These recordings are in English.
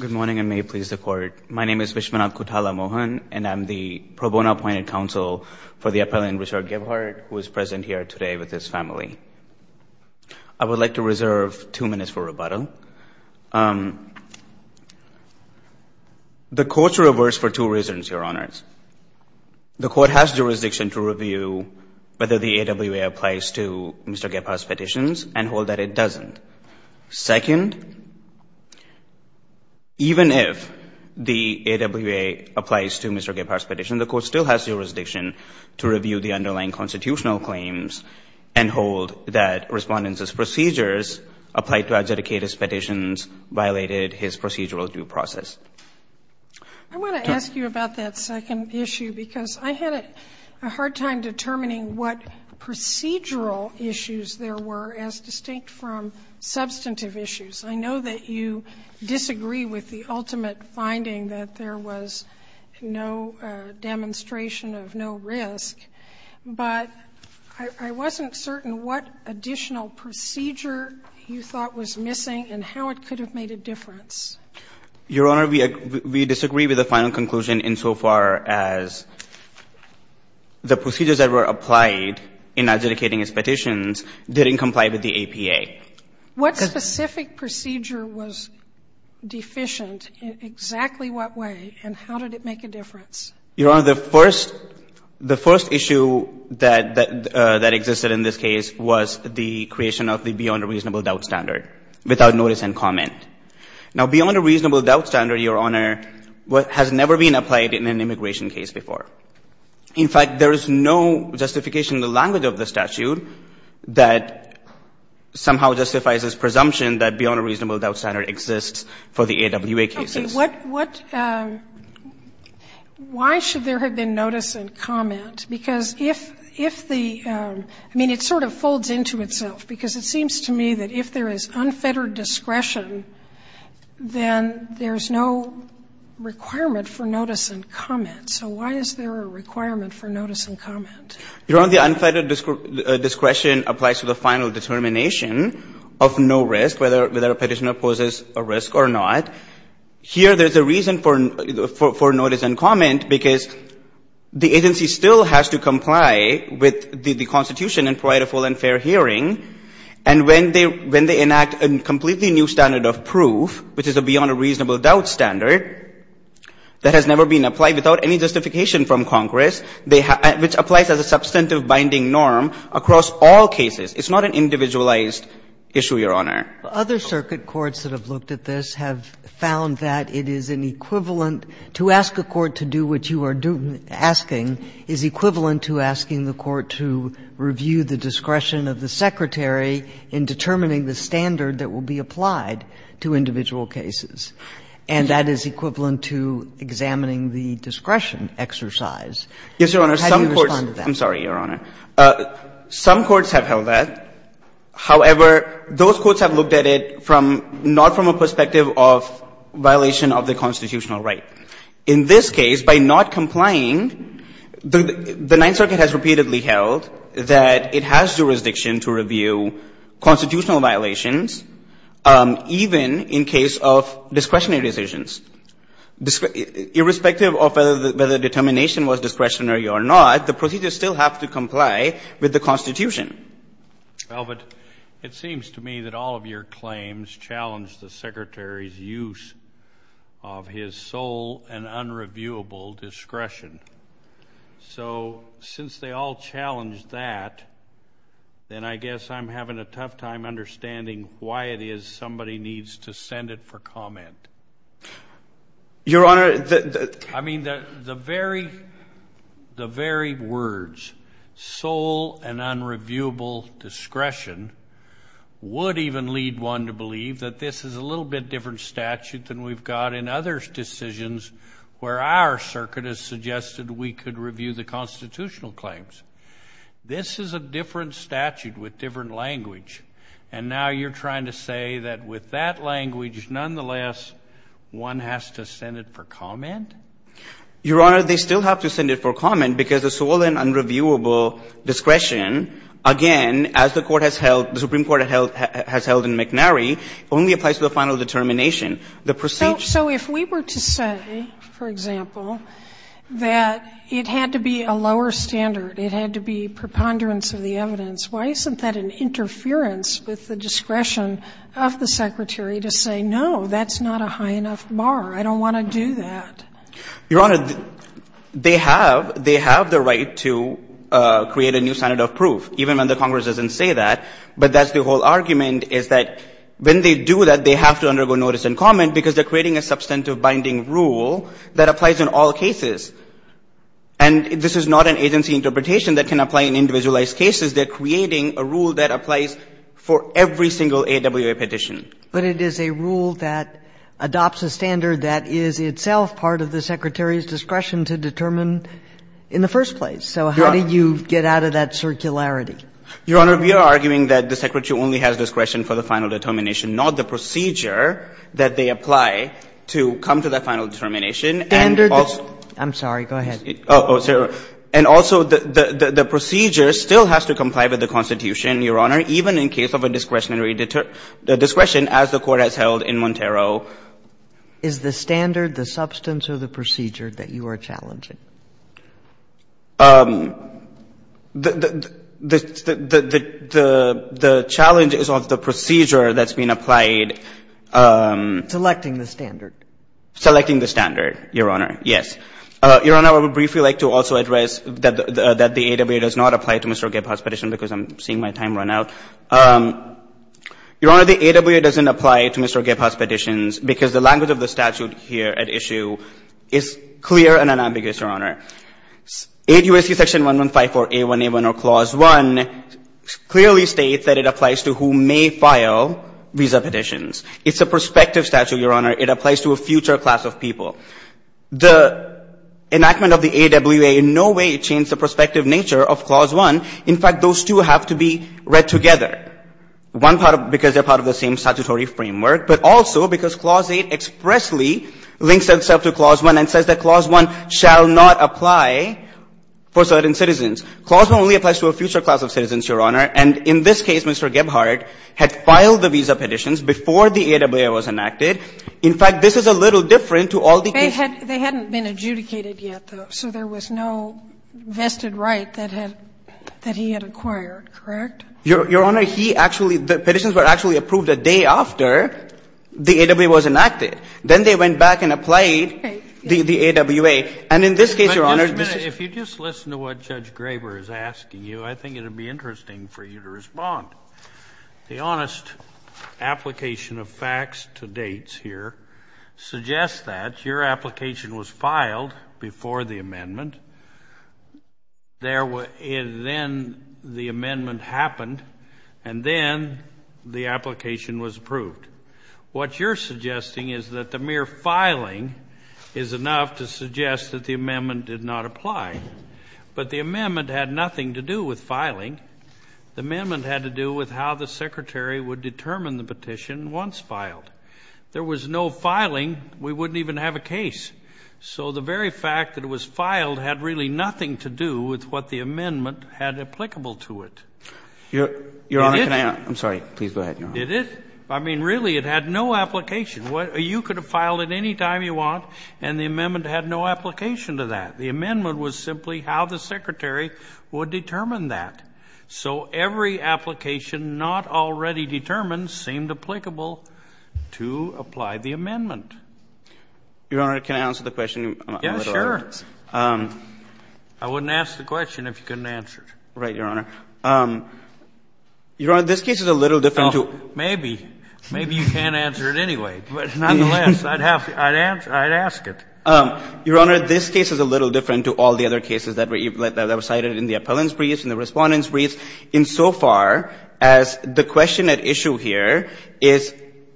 Good morning and may it please the court. My name is Vishwanath Kothalamohan and I'm the pro bono appointed counsel for the appellant Richard Gebhardt who is present here today with his family. I would like to reserve two minutes for rebuttal. The court's reversed for two reasons, your honors. The court has jurisdiction to review whether the AWA applies to Mr. Gebhardt's petitions and hold that it doesn't. Second, even if the AWA applies to Mr. Gebhardt's petition, the court still has jurisdiction to review the underlying constitutional claims and hold that respondents' procedures applied to adjudicated petitions violated his procedural due process. I want to ask you about that second issue because I had a hard time determining what procedural issues there were as distinct from substantive issues. I know that you disagree with the ultimate finding that there was no demonstration of no risk, but I wasn't certain what additional procedure you thought was missing and how it could have made a difference. Your Honor, we disagree with the final conclusion insofar as the procedures that were applied in adjudicating his petitions didn't comply with the APA. What specific procedure was deficient, exactly what way, and how did it make a difference? Your Honor, the first issue that existed in this case was the creation of the beyond a reasonable doubt standard without notice and comment. Now, beyond a reasonable doubt standard, your Honor, has never been applied in an immigration case before. In fact, there is no justification in the language of the statute that somehow justifies this presumption that beyond a reasonable doubt standard exists for the AWA cases. Okay. What why should there have been notice and comment? Because if the – I mean, it sort of folds into itself, because it seems to me that if there is unfettered discretion, then there's no requirement for notice and comment. So why is there a requirement for notice and comment? Your Honor, the unfettered discretion applies to the final determination of no risk, whether a petitioner poses a risk or not. Here, there's a reason for notice and comment, because the agency still has to comply with the Constitution and provide a full and of proof, which is a beyond a reasonable doubt standard, that has never been applied without any justification from Congress, which applies as a substantive binding norm across all cases. It's not an individualized issue, Your Honor. Other circuit courts that have looked at this have found that it is an equivalent – to ask a court to do what you are asking is equivalent to asking the court to review the discretion of the Secretary in determining the standard that will be applied to individual cases, and that is equivalent to examining the discretion exercise. How do you respond to that? Yes, Your Honor. Some courts – I'm sorry, Your Honor. Some courts have held that. However, those courts have looked at it from – not from a perspective of violation of the constitutional right. In this case, by not complying, the Ninth Circuit has repeatedly held that it has jurisdiction to review constitutional violations, even in case of discretionary decisions. Irrespective of whether the determination was discretionary or not, the procedure still has to comply with the Constitution. Well, but it seems to me that all of your claims challenge the Secretary's use of his sole and unreviewable discretion. So, since they all challenge that, then I guess I'm having a tough time understanding why it is somebody needs to send it for comment. Your Honor – I mean, the very – the very words, sole and unreviewable discretion, would even lead one to believe that this is a little bit different statute than we've got in other decisions where our circuit has suggested we could review the constitutional claims. This is a different statute with different language. And now you're trying to say that with that language, nonetheless, one has to send it for comment? Your Honor, they still have to send it for comment, because the sole and unreviewable discretion, again, as the Court has held, the Supreme Court has held in McNary, only applies to the final determination. The procedure – So if we were to say, for example, that it had to be a lower standard, it had to be a higher standard, why isn't that an interference with the discretion of the Secretary to say, no, that's not a high enough bar, I don't want to do that? Your Honor, they have – they have the right to create a new standard of proof, even when the Congress doesn't say that. But that's the whole argument, is that when they do that, they have to undergo notice and comment, because they're creating a substantive binding rule that applies in all cases. And this is not an agency interpretation that can apply in individualized cases. They're creating a rule that applies for every single AWA petition. But it is a rule that adopts a standard that is itself part of the Secretary's discretion to determine in the first place. So how do you get out of that circularity? Your Honor, we are arguing that the Secretary only has discretion for the final determination, not the procedure that they apply to come to that final determination and also – I'm sorry. Go ahead. Oh, sorry. And also, the procedure still has to comply with the Constitution, Your Honor, even in case of a discretionary – the discretion as the Court has held in Montero. Is the standard the substance of the procedure that you are challenging? The challenge is of the procedure that's being applied. Selecting the standard. Selecting the standard, Your Honor, yes. Your Honor, I would briefly like to also address that the AWA does not apply to Mr. Gephardt's petition because I'm seeing my time run out. Your Honor, the AWA doesn't apply to Mr. Gephardt's petitions because the language of the statute here at issue is clear and unambiguous, Your Honor. 8 U.S.C. Section 1154a1a1 or Clause 1 clearly states that it applies to who may file visa petitions. It's a prospective statute, Your Honor. It applies to a future class of people. The enactment of the AWA in no way changed the prospective nature of Clause 1. In fact, those two have to be read together, one part of – because they're part of the same statutory framework, but also because Clause 8 expressly links itself to Clause 1 and says that Clause 1 shall not apply for certain citizens. Clause 1 only applies to a future class of citizens, Your Honor, and in this case, Mr. Gephardt had filed the visa petitions before the AWA was enacted. In fact, this is a little different to all the cases we've heard. They hadn't been adjudicated yet, though, so there was no vested right that he had acquired, correct? Your Honor, he actually – the petitions were actually approved a day after the AWA was enacted. Then they went back and applied the AWA, and in this case, Your Honor, Mr. Gephardt But, just a minute. If you just listen to what Judge Graber is asking you, I think it would be interesting for you to respond. The honest application of facts to dates here suggests that your application was filed before the amendment. There were – and then the amendment happened, and then the application was approved. What you're suggesting is that the mere filing is enough to suggest that the amendment did not apply. But the amendment had nothing to do with filing. The amendment had to do with how the Secretary would determine the petition once filed. There was no filing. We wouldn't even have a case. So the very fact that it was filed had really nothing to do with what the amendment had applicable to it. Your Honor, can I – I'm sorry. Please go ahead, Your Honor. It did. I mean, really, it had no application. You could have filed it any time you want, and the amendment had no application to that. The amendment was simply how the Secretary would determine that. So every application not already determined seemed applicable to apply the amendment. Your Honor, can I answer the question? Yeah, sure. I wouldn't ask the question if you couldn't answer it. Right, Your Honor. Your Honor, this case is a little different to – Maybe. Maybe you can't answer it anyway. But nonetheless, I'd ask it. Your Honor, this case is a little different to all the other cases that were cited in the appellant's briefs and the respondent's briefs insofar as the question at issue here is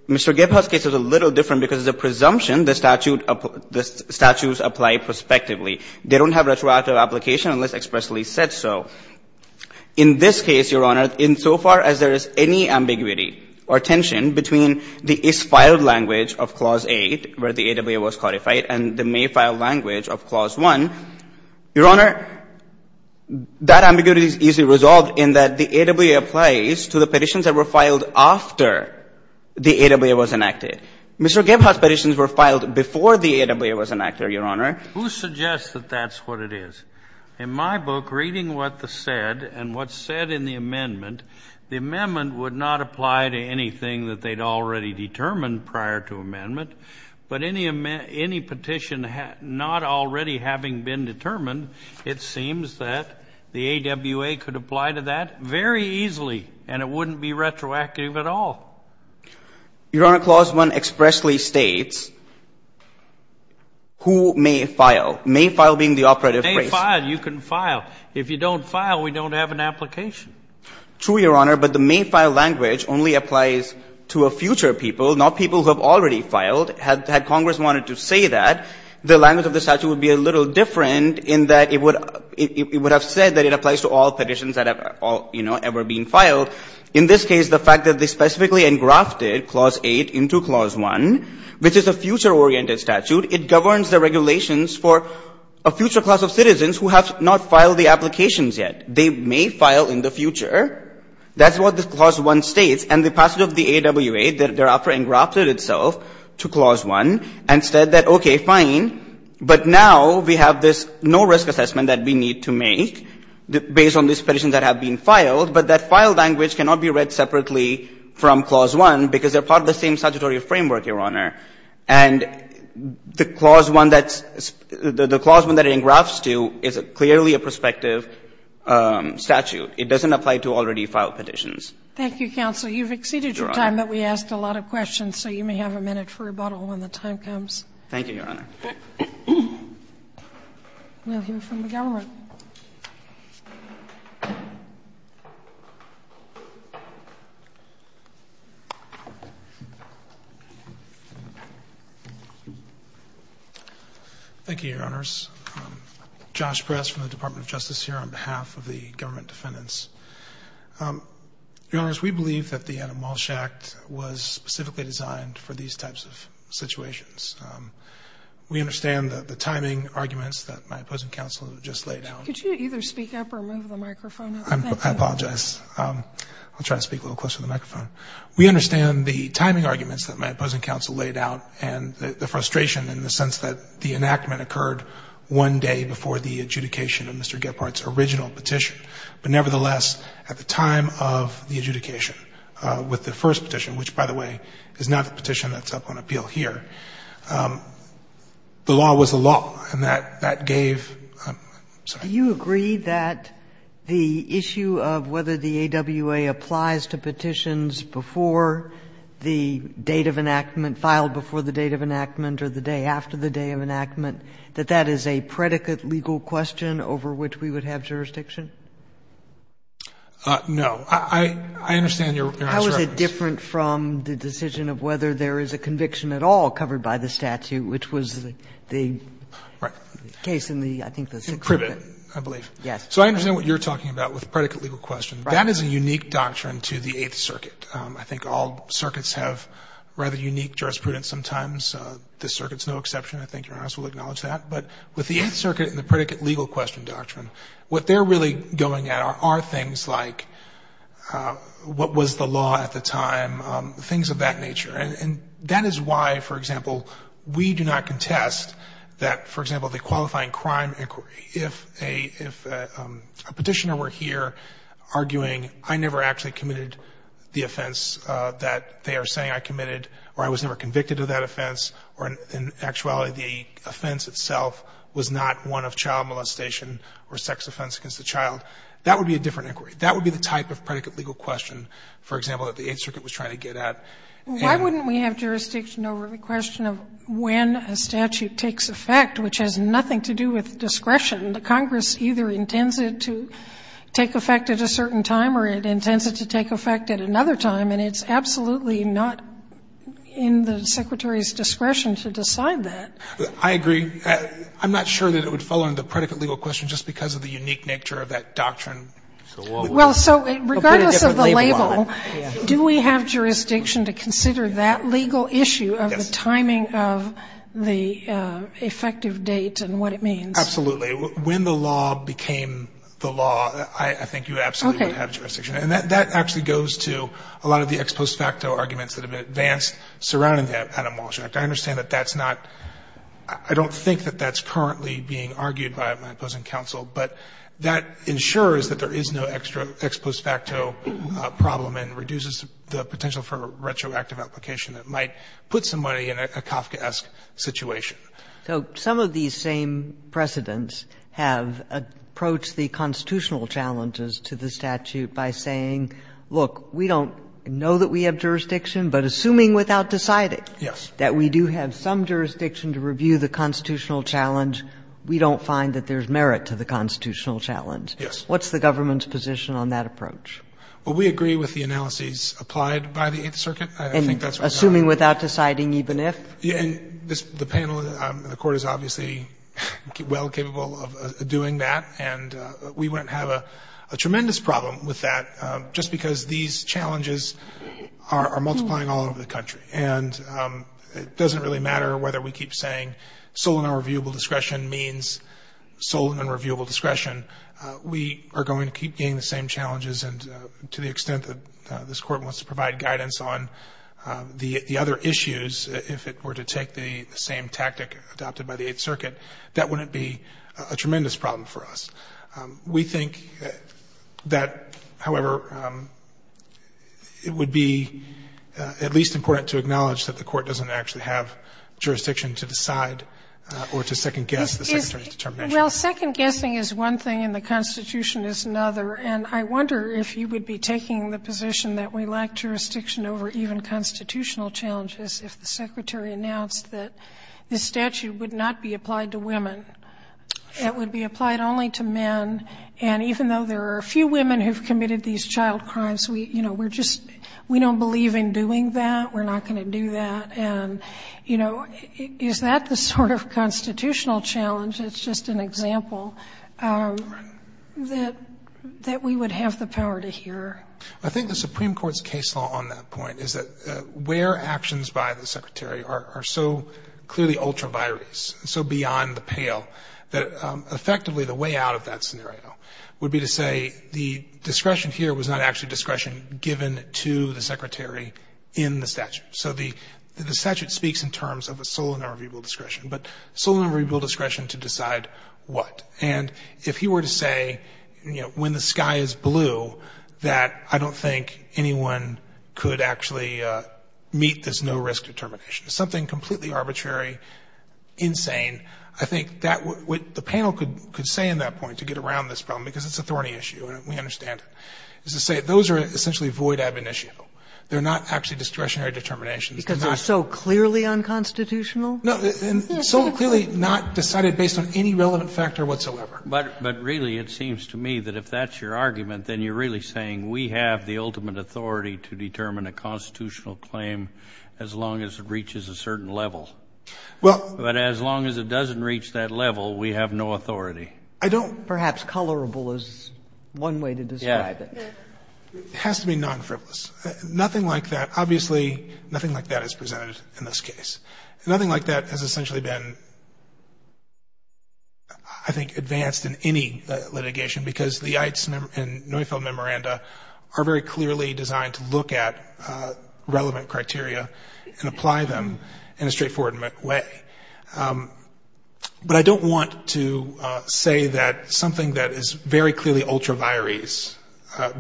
Mr. Gephardt's case is a little different because it's a presumption the statute – the statutes apply prospectively. They don't have retroactive application unless expressly said so. In this case, Your Honor, insofar as there is any ambiguity or tension between the is-filed language of Clause 8, where the AWA was codified, and the may-file language of Clause 1, Your Honor, that ambiguity is easily resolved in that the AWA applies to the petitions that were filed after the AWA was enacted. Mr. Gephardt's petitions were filed before the AWA was enacted, Your Honor. Who suggests that that's what it is? In my book, reading what's said and what's said in the amendment, the amendment would not apply to anything that they'd already determined prior to amendment, but any petition not already having been determined, it seems that the AWA could apply to that very easily, and it wouldn't be retroactive at all. Your Honor, Clause 1 expressly states, who may file. May file being the operative phrase. You may file. You can file. If you don't file, we don't have an application. True, Your Honor, but the may-file language only applies to a future people, not people who have already filed. Had Congress wanted to say that, the language of the statute would be a little different in that it would have said that it applies to all petitions that have all, you know, ever been filed. In this case, the fact that they specifically engrafted Clause 8 into Clause 1, which is a future-oriented statute, it governs the regulations for a future class of citizens who have not filed the applications yet. They may file in the future. That's what this Clause 1 states. And the passage of the AWA thereafter engrafted itself to Clause 1 and said that, okay, fine, but now we have this no-risk assessment that we need to make based on these petitions that have been filed, but that file language cannot be read separately from Clause 1 because they're part of the same statutory framework, Your Honor. And the Clause 1 that's – the Clause 1 that it engrafts to is clearly a prospective statute. It doesn't apply to already-filed petitions. Thank you, counsel. You've exceeded your time, but we asked a lot of questions, so you may have a minute for rebuttal when the time comes. Thank you, Your Honor. We'll hear from the government. Thank you, Your Honors. Josh Press from the Department of Justice here on behalf of the government defendants. Your Honors, we believe that the Adam Walsh Act was specifically designed for these types of situations. We understand the timing arguments that my opposing counsel just laid out. Could you either speak up or move the microphone? I apologize. I'll try to speak a little closer to the microphone. We understand the timing arguments that my opposing counsel laid out and the frustration in the sense that the enactment occurred one day before the adjudication of Mr. Walsh's petition, which, by the way, is not the petition that's up on appeal here. The law was the law, and that gave — I'm sorry. Do you agree that the issue of whether the AWA applies to petitions before the date of enactment, filed before the date of enactment or the day after the day of enactment, that that is a predicate legal question over which we would have jurisdiction? No. I understand Your Honor's reference. How is it different from the decision of whether there is a conviction at all covered by the statute, which was the case in the, I think, the Sixth Circuit? Privet, I believe. Yes. So I understand what you're talking about with predicate legal question. Right. That is a unique doctrine to the Eighth Circuit. I think all circuits have rather unique jurisprudence sometimes. This circuit's no exception. I think Your Honor's will acknowledge that. But with the Eighth Circuit and the predicate legal question doctrine, what they're really going at are things like what was the law at the time, things of that nature. And that is why, for example, we do not contest that, for example, the qualifying crime inquiry — if a petitioner were here arguing I never actually committed the offense that they are saying I committed or I was never convicted of that offense or in actuality the offense itself was not one of child molestation or sex offense against a child, that would be a different inquiry. That would be the type of predicate legal question, for example, that the Eighth Circuit was trying to get at. And we have jurisdiction over the question of when a statute takes effect, which has nothing to do with discretion. Congress either intends it to take effect at a certain time or it intends it to take effect at another time, and it's absolutely not in the Secretary's discretion to decide that. I agree. I'm not sure that it would fall under the predicate legal question just because of the unique nature of that doctrine. Sotomayor, so regardless of the label, do we have jurisdiction to consider that legal issue of the timing of the effective date and what it means? Absolutely. When the law became the law, I think you absolutely would have jurisdiction. And that actually goes to a lot of the ex post facto arguments that have been advanced surrounding the Adam Walsh Act. I understand that that's not – I don't think that that's currently being argued by my opposing counsel, but that ensures that there is no ex post facto problem and reduces the potential for a retroactive application that might put somebody in a Kafkaesque situation. So some of these same precedents have approached the constitutional challenges to the statute by saying, look, we don't know that we have jurisdiction, but assuming without deciding that we do have some jurisdiction to review the constitutional challenge, we don't find that there's merit to the constitutional challenge. What's the government's position on that approach? Well, we agree with the analyses applied by the Eighth Circuit. I think that's what's happening. And assuming without deciding even if? And the panel, the Court is obviously well capable of doing that, and we wouldn't have a tremendous problem with that just because these challenges are multiplying all over the country. And it doesn't really matter whether we keep saying sole and unreviewable discretion means sole and unreviewable discretion. We are going to keep getting the same challenges, and to the extent that this Court wants to provide guidance on the other issues, if it were to take the same tactic adopted by the Eighth Circuit, that wouldn't be a tremendous problem for us. We think that, however, it would be at least important to acknowledge that the Court doesn't actually have jurisdiction to decide or to second-guess the Secretary's determination. Well, second-guessing is one thing, and the Constitution is another. And I wonder if you would be taking the position that we lack jurisdiction over even constitutional challenges if the Secretary announced that this statute would not be applied to women. It would be applied only to men, and even though there are a few women who've committed these child crimes, we, you know, we're just, we don't believe in doing that, we're not going to do that. And, you know, is that the sort of constitutional challenge, it's just an example, that we would have the power to hear? I think the Supreme Court's case law on that point is that where actions by the that effectively the way out of that scenario would be to say the discretion here was not actually discretion given to the Secretary in the statute. So the statute speaks in terms of a sole and irrevocable discretion, but sole and irrevocable discretion to decide what. And if he were to say, you know, when the sky is blue, that I don't think anyone could actually meet this no-risk determination, something completely arbitrary, insane, I think that what the panel could say in that point to get around this problem, because it's a thorny issue and we understand it, is to say those are essentially void ab initio. They're not actually discretionary determinations. Because they're so clearly unconstitutional? No, and so clearly not decided based on any relevant factor whatsoever. But, but really it seems to me that if that's your argument, then you're really saying we have the ultimate authority to determine a constitutional claim as long as it reaches a certain level, but as long as it doesn't reach that level, we have no authority. I don't Perhaps colorable is one way to describe it. It has to be non-frivolous. Nothing like that, obviously, nothing like that is presented in this case. Nothing like that has essentially been, I think, advanced in any litigation, because the Ites and Neufeld memoranda are very clearly designed to look at relevant criteria and apply them in a straightforward way. But I don't want to say that something that is very clearly ultra vires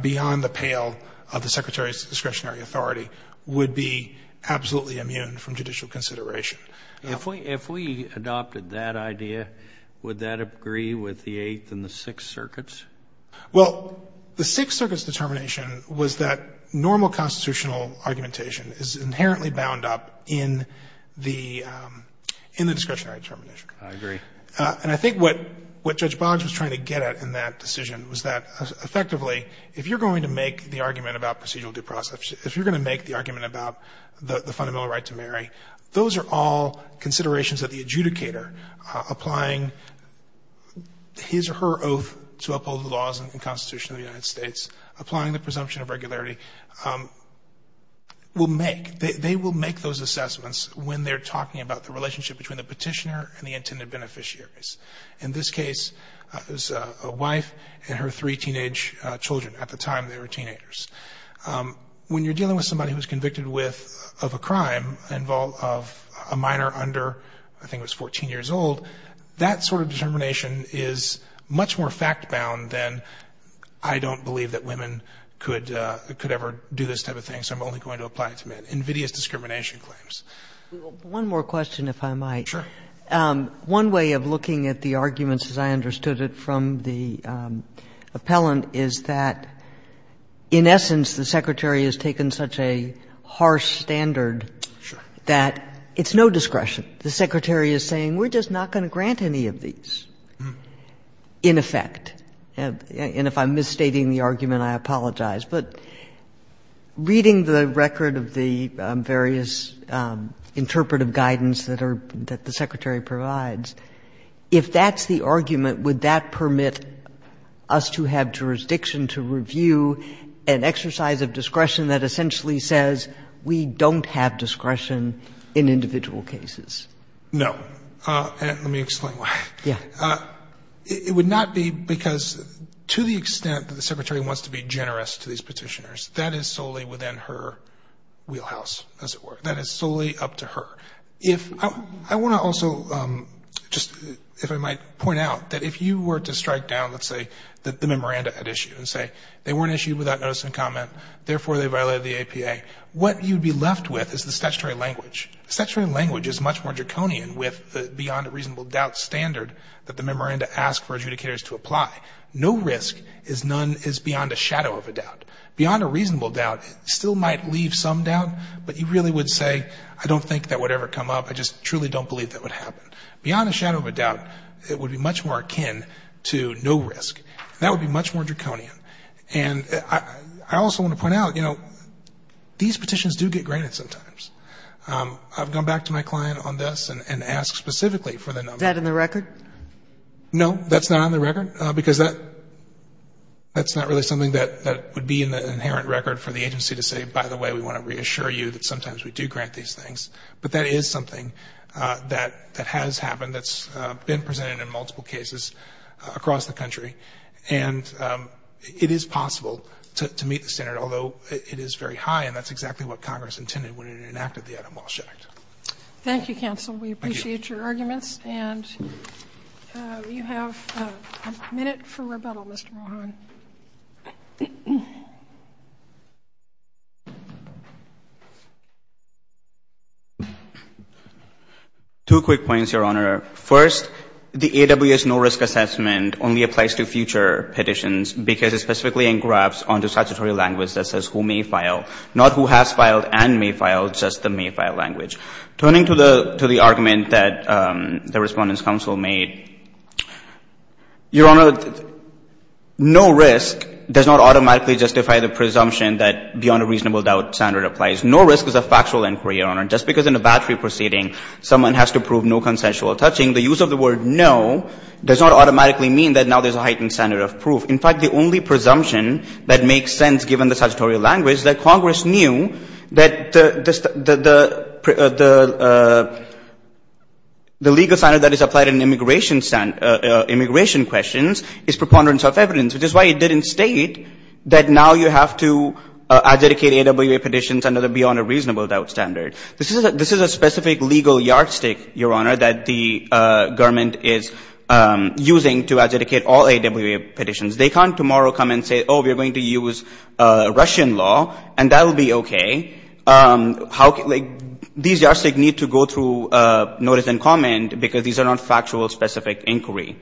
beyond the pale of the Secretary's discretionary authority would be absolutely immune from judicial consideration. If we adopted that idea, would that agree with the Eighth and the Sixth Circuits? Well, the Sixth Circuit's determination was that normal constitutional argumentation is inherently bound up in the discretionary determination. I agree. And I think what Judge Boggs was trying to get at in that decision was that effectively, if you're going to make the argument about procedural due process, if you're going to make the argument about the fundamental right to marry, those are all considerations of the adjudicator applying his or her oath to uphold the laws and constitution of the United States, applying the presumption of regularity. They will make those assessments when they're talking about the relationship between the petitioner and the intended beneficiaries. In this case, it was a wife and her three teenage children. At the time, they were teenagers. When you're dealing with somebody who was convicted of a crime of a minor under, I think it was 14 years old, that sort of determination is much more fact-bound than I don't believe that women could ever do this type of thing, so I'm only going to apply it to men, invidious discrimination claims. One more question, if I might. Sure. One way of looking at the arguments, as I understood it from the appellant, is that in essence, the Secretary has taken such a harsh standard that it's no discretion. The Secretary is saying we're just not going to grant any of these in effect. And if I'm misstating the argument, I apologize. But reading the record of the various interpretive guidance that are — that the Secretary provides, if that's the argument, would that permit us to have jurisdiction to review an exercise of discretion that essentially says we don't have discretion in individual cases? No. Let me explain why. Yeah. It would not be because, to the extent that the Secretary wants to be generous to these petitioners, that is solely within her wheelhouse, as it were. That is solely up to her. If — I want to also just, if I might, point out that if you were to strike down, let's say, the memoranda at issue and say they weren't issued without notice and comment, therefore they violated the APA, what you'd be left with is the statutory language. Statutory language is much more draconian with the beyond reasonable doubt standard that the memoranda asks for adjudicators to apply. No risk is none — is beyond a shadow of a doubt. Beyond a reasonable doubt, it still might leave some doubt, but you really would say, I don't think that would ever come up. I just truly don't believe that would happen. Beyond a shadow of a doubt, it would be much more akin to no risk. That would be much more draconian. And I also want to point out, you know, these petitions do get granted sometimes. I've gone back to my client on this and asked specifically for the number. Is that in the record? No, that's not on the record, because that's not really something that would be in the inherent record for the agency to say, by the way, we want to reassure you that sometimes we do grant these things. But that is something that has happened, that's been presented in multiple cases across the country. And it is possible to meet the standard, although it is very high, and that's exactly what Congress intended when it enacted the Adam Walsh Act. Thank you, counsel. We appreciate your arguments. And you have a minute for rebuttal, Mr. Rohan. Two quick points, Your Honor. First, the AWS no risk assessment only applies to future petitions, because it specifically engraves onto statutory language that says who may file, not who has filed and may file, just the may file language. Turning to the argument that the Respondent's counsel made, Your Honor, no risk does not automatically justify the presumption that beyond a reasonable doubt standard applies. No risk is a factual inquiry, Your Honor. Just because in a battery proceeding someone has to prove no consensual touching, the use of the word no does not automatically mean that now there's a heightened standard of proof. In fact, the only presumption that makes sense given the statutory language is that the legal standard that is applied in immigration questions is preponderance of evidence, which is why it didn't state that now you have to adjudicate AWA petitions under the beyond a reasonable doubt standard. This is a specific legal yardstick, Your Honor, that the government is using to adjudicate all AWA petitions. They can't tomorrow come and say, oh, we're going to use Russian law, and that'll be OK. How can they – these yardsticks need to go through notice and comment, because these are not factual, specific inquiry.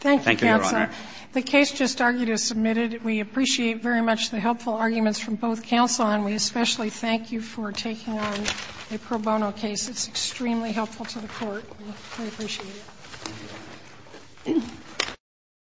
Thank you, Your Honor. Thank you, Counsel. The case just argued is submitted. We appreciate very much the helpful arguments from both counsel, and we especially thank you for taking on a pro bono case. It's extremely helpful to the Court. We appreciate it.